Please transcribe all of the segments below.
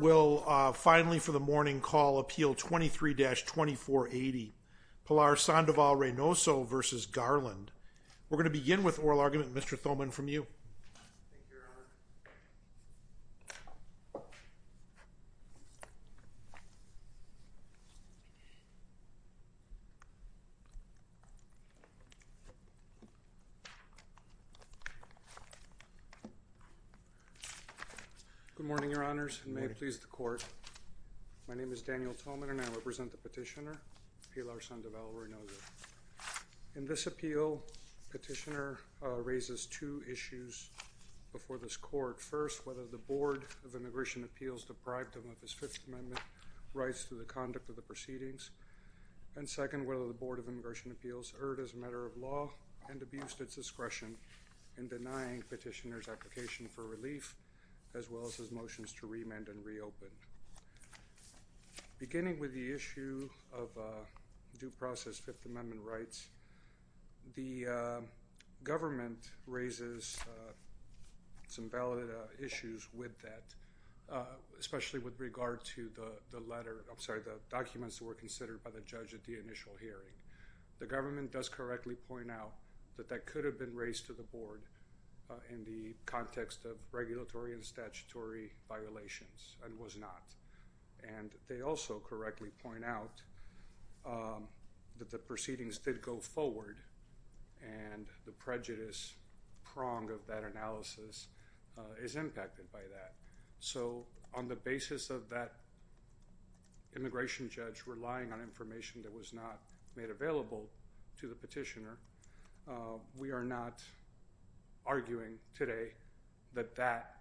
will finally, for the morning, call Appeal 23-2480, Pilar Sandoval Reynoso v. Garland. We're going to begin with oral argument. Mr. Thoman, from you. Thank you, Your Honor. Good morning, Your Honors, and may it please the Court. My name is Daniel Thoman, and I represent the petitioner, Pilar Sandoval Reynoso. In this appeal, petitioner raises two issues before this Court. First, whether the Board of Immigration Appeals deprived him of his Fifth Amendment rights to the conduct of the proceedings. And second, whether the Board of Immigration Appeals erred as a matter of law and abused its discretion in denying petitioner's application for relief, as well as his motions to remand and reopen. Beginning with the issue of due process Fifth Amendment rights, the government raises some valid issues with that, especially with regard to the letter, I'm sorry, the documents that were considered by the judge at the initial hearing. The government does correctly point out that that could have been raised to the Board in the context of regulatory and statutory violations, and was not. And they also correctly point out that the proceedings did go forward, and the prejudice prong of that analysis is impacted by that. So, on the basis of that immigration judge relying on information that was not made available to the petitioner, we are not arguing today that that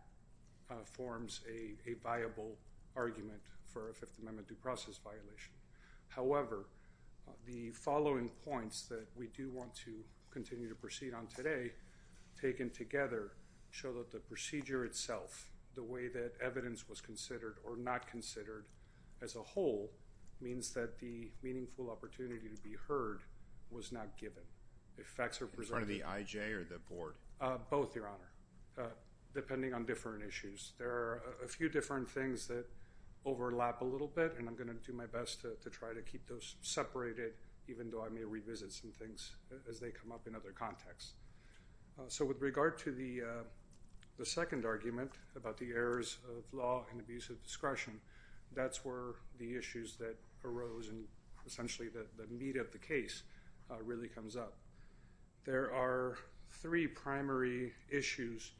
forms a viable argument for a Fifth Amendment due process violation. However, the following points that we do want to continue to proceed on today, taken together, show that the procedure itself, the way that evidence was considered or not considered as a whole, means that the meaningful opportunity to be heard was not given. In front of the IJ or the Board? Both, Your Honor, depending on different issues. There are a few different things that overlap a little bit, and I'm going to do my best to try to keep those separated, even though I may revisit some things as they come up in other contexts. So, with regard to the second argument about the errors of law and abuse of discretion, that's where the issues that arose and essentially the meat of the case really comes up. There are three primary issues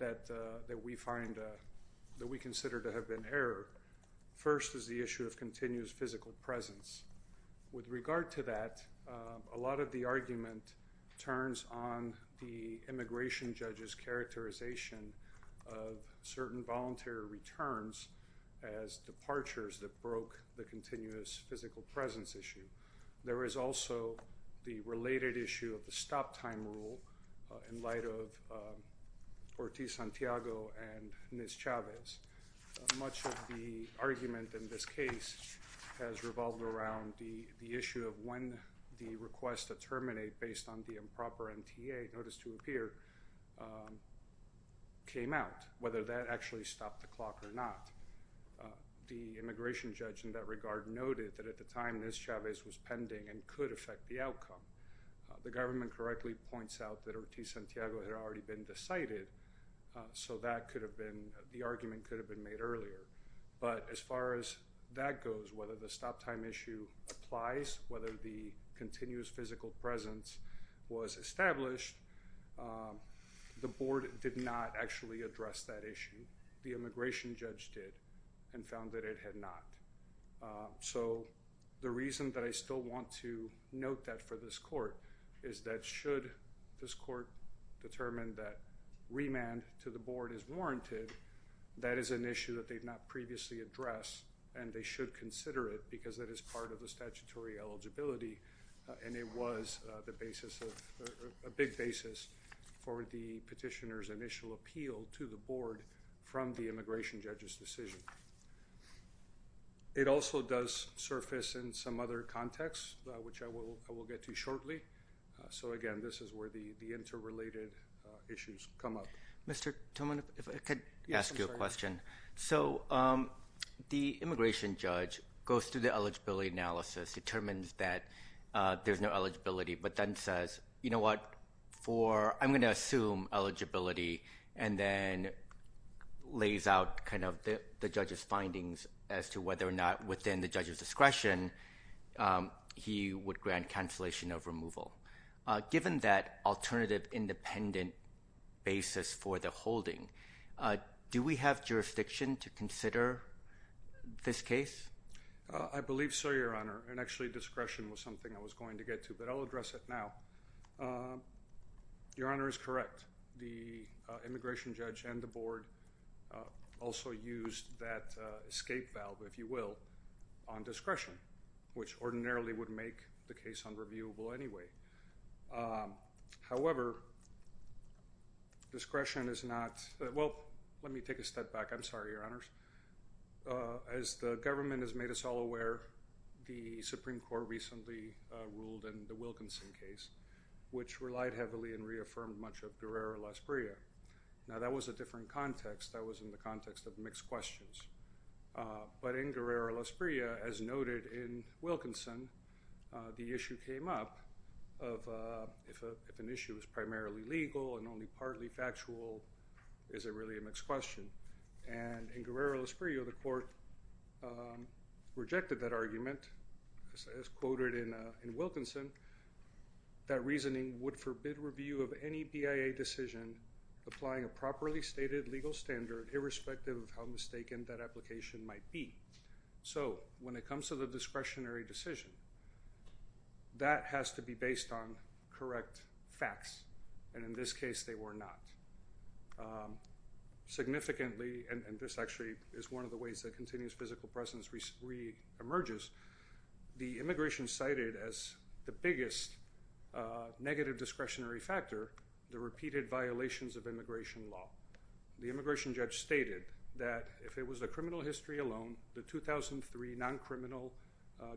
that we find that we consider to have been error. First is the issue of continuous physical presence. With regard to that, a lot of the argument turns on the immigration judge's characterization of certain voluntary returns as departures that broke the continuous physical presence issue. There is also the related issue of the stop time rule in light of Ortiz-Santiago and Ms. Chavez. Much of the argument in this case has revolved around the issue of when the request to terminate based on the improper MTA notice to appear came out, whether that actually stopped the clock or not. The immigration judge in that regard noted that at the time Ms. Chavez was pending and could affect the outcome. The government correctly points out that Ortiz-Santiago had already been decided, so the argument could have been made earlier. But as far as that goes, whether the stop time issue applies, whether the continuous physical presence was established, the board did not actually address that issue. The immigration judge did and found that it had not. So the reason that I still want to note that for this court is that should this court determine that remand to the board is warranted, that is an issue that they've not previously addressed and they should consider it because that is part of the statutory eligibility. And it was a big basis for the petitioner's initial appeal to the board from the immigration judge's decision. It also does surface in some other contexts, which I will get to shortly. So again, this is where the interrelated issues come up. Mr. Toman, if I could ask you a question. Yes, I'm sorry. So the immigration judge goes through the eligibility analysis, determines that there's no eligibility, but then says, you know what, I'm going to assume eligibility and then lays out kind of the judge's findings as to whether or not within the judge's discretion he would grant cancellation of removal. Given that alternative independent basis for the holding, do we have jurisdiction to consider this case? I believe so, Your Honor, and actually discretion was something I was going to get to, but I'll address it now. Your Honor is correct. The immigration judge and the board also used that escape valve, if you will, on discretion, which ordinarily would make the case unreviewable anyway. However, discretion is not – well, let me take a step back. I'm sorry, Your Honors. As the government has made us all aware, the Supreme Court recently ruled in the Wilkinson case, which relied heavily and reaffirmed much of Guerrero-Las Priegas. Now, that was a different context. That was in the context of mixed questions. But in Guerrero-Las Priegas, as noted in Wilkinson, the issue came up of if an issue is primarily legal and only partly factual, is it really a mixed question? And in Guerrero-Las Priegas, the court rejected that argument. As quoted in Wilkinson, that reasoning would forbid review of any BIA decision applying a properly stated legal standard irrespective of how mistaken that application might be. So when it comes to the discretionary decision, that has to be based on correct facts, and in this case, they were not. Significantly – and this actually is one of the ways that continuous physical presence re-emerges – the immigration cited as the biggest negative discretionary factor, the repeated violations of immigration law. The immigration judge stated that if it was the criminal history alone, the 2003 non-criminal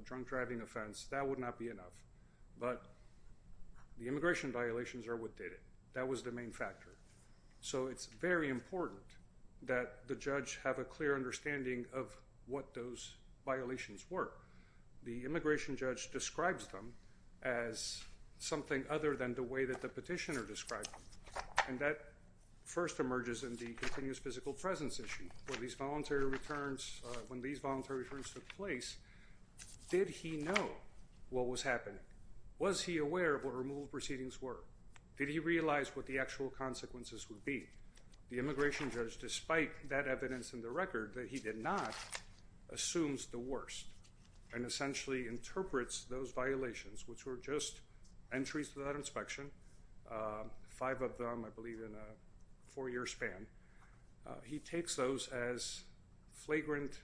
drunk driving offense, that would not be enough. But the immigration violations are what did it. That was the main factor. So it's very important that the judge have a clear understanding of what those violations were. The immigration judge describes them as something other than the way that the petitioner described them, and that first emerges in the continuous physical presence issue. When these voluntary returns took place, did he know what was happening? Was he aware of what removal proceedings were? Did he realize what the actual consequences would be? The immigration judge, despite that evidence in the record that he did not, assumes the worst and essentially interprets those violations, which were just entries to that inspection. Five of them, I believe, in a four-year span. He takes those as flagrant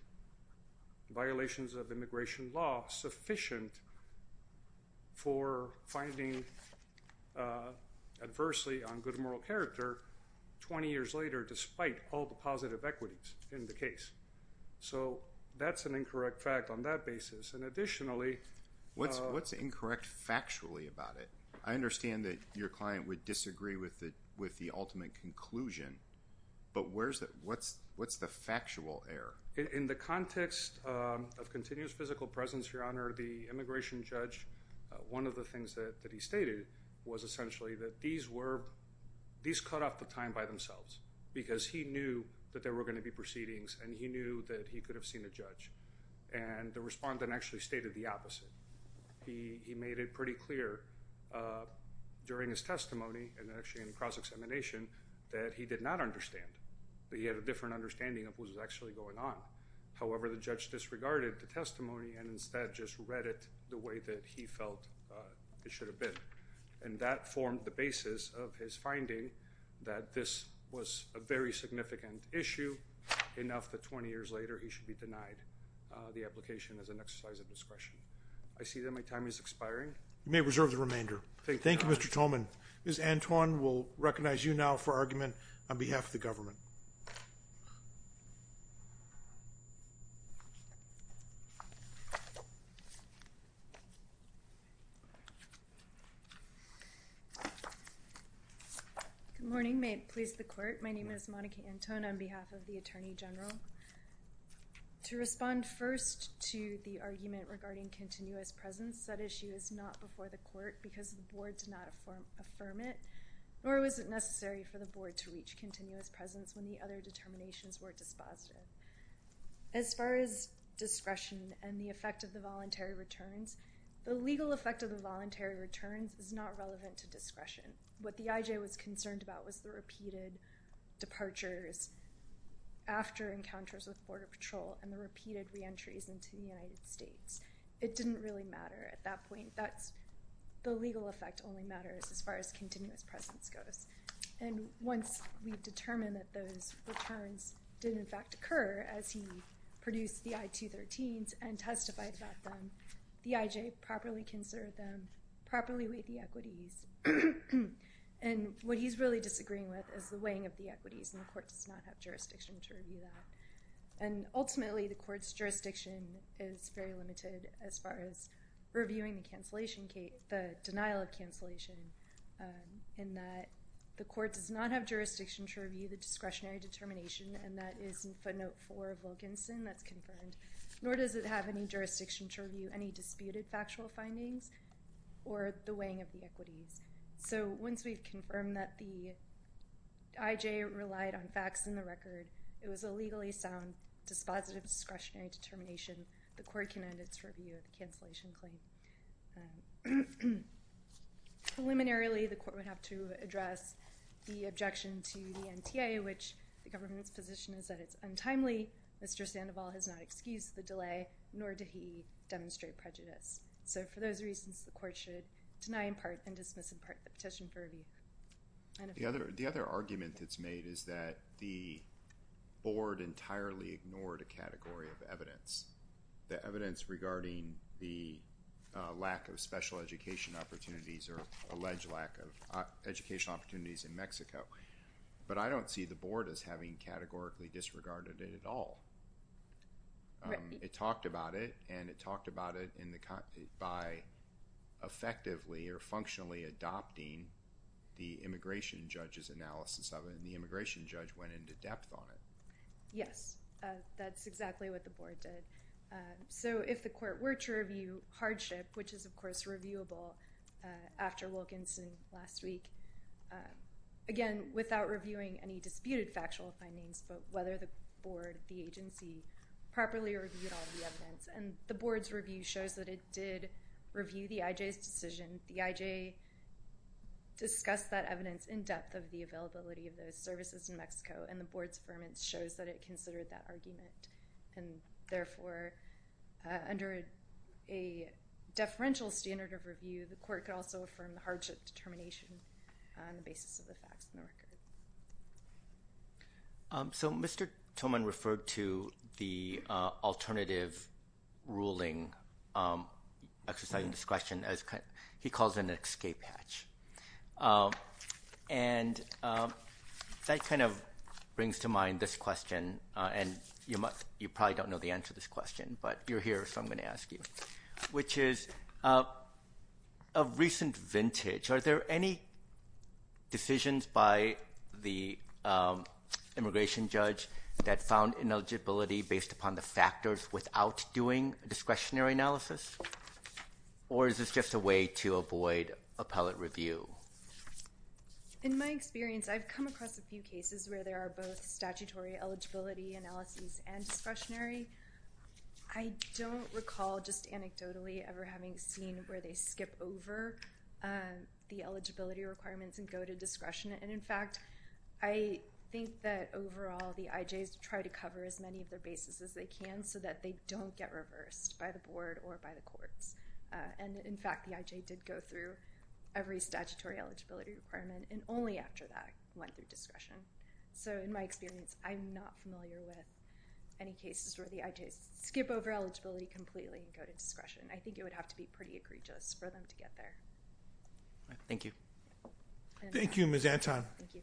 violations of immigration law sufficient for finding adversity on good moral character 20 years later despite all the positive equities in the case. So that's an incorrect fact on that basis. And additionally… What's incorrect factually about it? I understand that your client would disagree with the ultimate conclusion, but what's the factual error? In the context of continuous physical presence, Your Honor, the immigration judge, one of the things that he stated was essentially that these cut off the time by themselves because he knew that there were going to be proceedings and he knew that he could have seen a judge. And the respondent actually stated the opposite. He made it pretty clear during his testimony and actually in cross-examination that he did not understand. He had a different understanding of what was actually going on. However, the judge disregarded the testimony and instead just read it the way that he felt it should have been. And that formed the basis of his finding that this was a very significant issue enough that 20 years later he should be denied the application as an exercise of discretion. I see that my time is expiring. You may reserve the remainder. Thank you, Mr. Tolman. Ms. Antwon will recognize you now for argument on behalf of the government. Good morning. May it please the Court. My name is Monica Antwon on behalf of the Attorney General. To respond first to the argument regarding continuous presence, that issue is not before the Court because the Board did not affirm it, nor was it necessary for the Board to reach continuous presence when the other determinations were dispositive. As far as discretion and the effect of the voluntary returns, the legal effect of the voluntary returns is not relevant to discretion. What the IJ was concerned about was the repeated departures after encounters with Border Patrol and the repeated reentries into the United States. It didn't really matter at that point. The legal effect only matters as far as continuous presence goes. Once we determined that those returns did, in fact, occur as he produced the I-213s and testified about them, the IJ properly considered them, properly weighed the equities. What he's really disagreeing with is the weighing of the equities, and the Court does not have jurisdiction to review that. Ultimately, the Court's jurisdiction is very limited as far as reviewing the denial of cancellation in that the Court does not have jurisdiction to review the discretionary determination, and that is in footnote 4 of Wilkinson that's confirmed, nor does it have any jurisdiction to review any disputed factual findings or the weighing of the equities. Once we've confirmed that the IJ relied on facts in the record, it was a legally sound dispositive discretionary determination, the Court can end its review of the cancellation claim. Preliminarily, the Court would have to address the objection to the NTA, which the government's position is that it's untimely. Mr. Sandoval has not excused the delay, nor did he demonstrate prejudice. So for those reasons, the Court should deny in part and dismiss in part the petition for review. The other argument that's made is that the Board entirely ignored a category of evidence, the evidence regarding the lack of special education opportunities or alleged lack of educational opportunities in Mexico. But I don't see the Board as having categorically disregarded it at all. It talked about it, and it talked about it by effectively or functionally adopting the immigration judge's analysis of it, and the immigration judge went into depth on it. Yes, that's exactly what the Board did. So if the Court were to review hardship, which is, of course, reviewable after Wilkinson last week, again, without reviewing any disputed factual findings, but whether the Board, the agency, properly reviewed all the evidence. And the Board's review shows that it did review the IJ's decision. The IJ discussed that evidence in depth of the availability of those services in Mexico, and the Board's affirmance shows that it considered that argument. And, therefore, under a deferential standard of review, the Court could also affirm the hardship determination on the basis of the facts in the record. So Mr. Tillman referred to the alternative ruling, exercising discretion, as he calls an escape hatch. And that kind of brings to mind this question, and you probably don't know the answer to this question, but you're here, so I'm going to ask you, which is, of recent vintage, are there any decisions by the immigration judge that found ineligibility based upon the factors without doing discretionary analysis? Or is this just a way to avoid appellate review? In my experience, I've come across a few cases where there are both statutory eligibility analyses and discretionary. I don't recall just anecdotally ever having seen where they skip over the eligibility requirements and go to discretion. And, in fact, I think that, overall, the IJs try to cover as many of their bases as they can so that they don't get reversed by the Board or by the courts. And, in fact, the IJ did go through every statutory eligibility requirement, and only after that went through discretion. So, in my experience, I'm not familiar with any cases where the IJs skip over eligibility completely and go to discretion. I think it would have to be pretty egregious for them to get there. Thank you. Thank you, Ms. Anton. Thank you.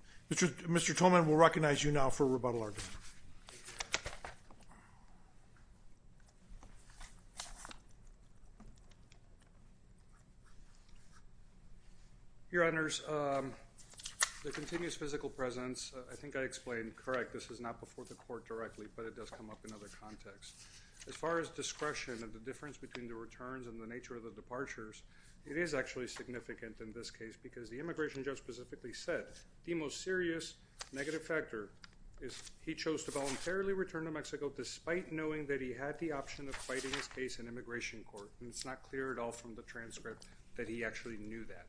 Mr. Tolman will recognize you now for rebuttal argument. Your Honors, the continuous physical presence, I think I explained correct. This is not before the court directly, but it does come up in other contexts. As far as discretion and the difference between the returns and the nature of the departures, it is actually significant in this case because the immigration judge specifically said the most serious negative factor is he chose to voluntarily return to Mexico despite knowing that he had the option of fighting his case in immigration court. And it's not clear at all from the transcript that he actually knew that.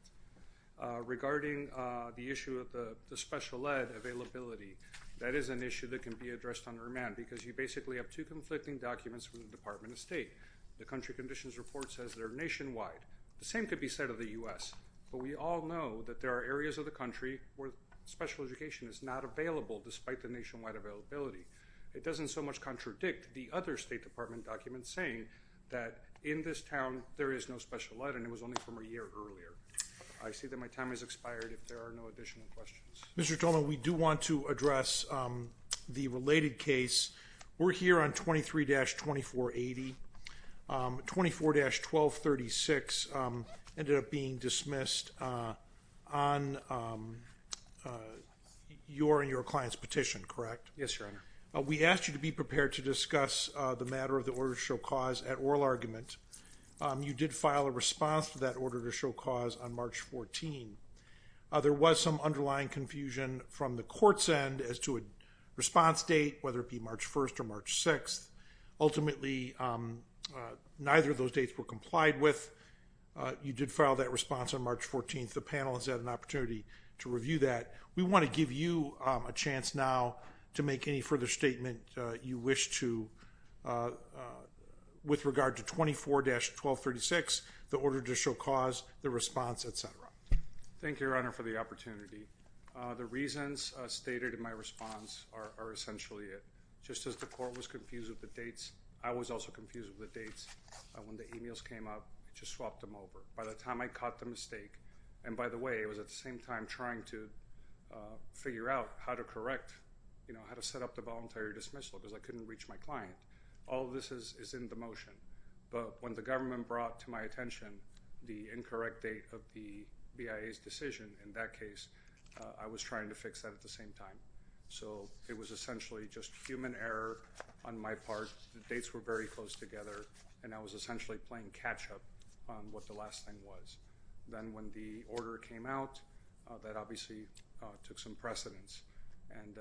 Regarding the issue of the special ed availability, that is an issue that can be addressed on remand because you basically have two conflicting documents from the Department of State. The country conditions report says they're nationwide. The same could be said of the U.S. But we all know that there are areas of the country where special education is not available despite the nationwide availability. It doesn't so much contradict the other State Department documents saying that in this town there is no special ed and it was only from a year earlier. I see that my time has expired if there are no additional questions. Mr. Tolman, we do want to address the related case. We're here on 23-2480. 24-1236 ended up being dismissed on your and your client's petition, correct? Yes, Your Honor. We asked you to be prepared to discuss the matter of the order to show cause at oral argument. You did file a response to that order to show cause on March 14. There was some underlying confusion from the court's end as to a response date, whether it be March 1st or March 6th. Ultimately, neither of those dates were complied with. You did file that response on March 14th. The panel has had an opportunity to review that. We want to give you a chance now to make any further statement you wish to with regard to 24-1236, the order to show cause, the response, etc. Thank you, Your Honor, for the opportunity. The reasons stated in my response are essentially it. Just as the court was confused with the dates, I was also confused with the dates. When the emails came up, I just swapped them over. By the time I caught the mistake, and by the way, I was at the same time trying to figure out how to correct, how to set up the voluntary dismissal because I couldn't reach my client. All of this is in the motion. But when the government brought to my attention the incorrect date of the BIA's decision in that case, I was trying to fix that at the same time. So it was essentially just human error on my part. The dates were very close together, and I was essentially playing catch-up on what the last thing was. Then when the order came out, that obviously took some precedence, and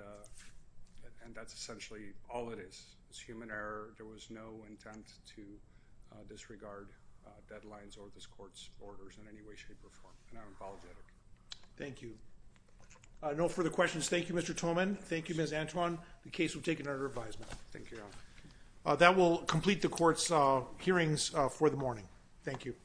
that's essentially all it is. It's human error. There was no intent to disregard deadlines or this court's orders in any way, shape, or form, and I'm apologetic. Thank you. No further questions. Thank you, Mr. Thoman. Thank you, Ms. Antwon. The case will take another advisement. Thank you, Your Honor. That will complete the court's hearings for the morning. Thank you.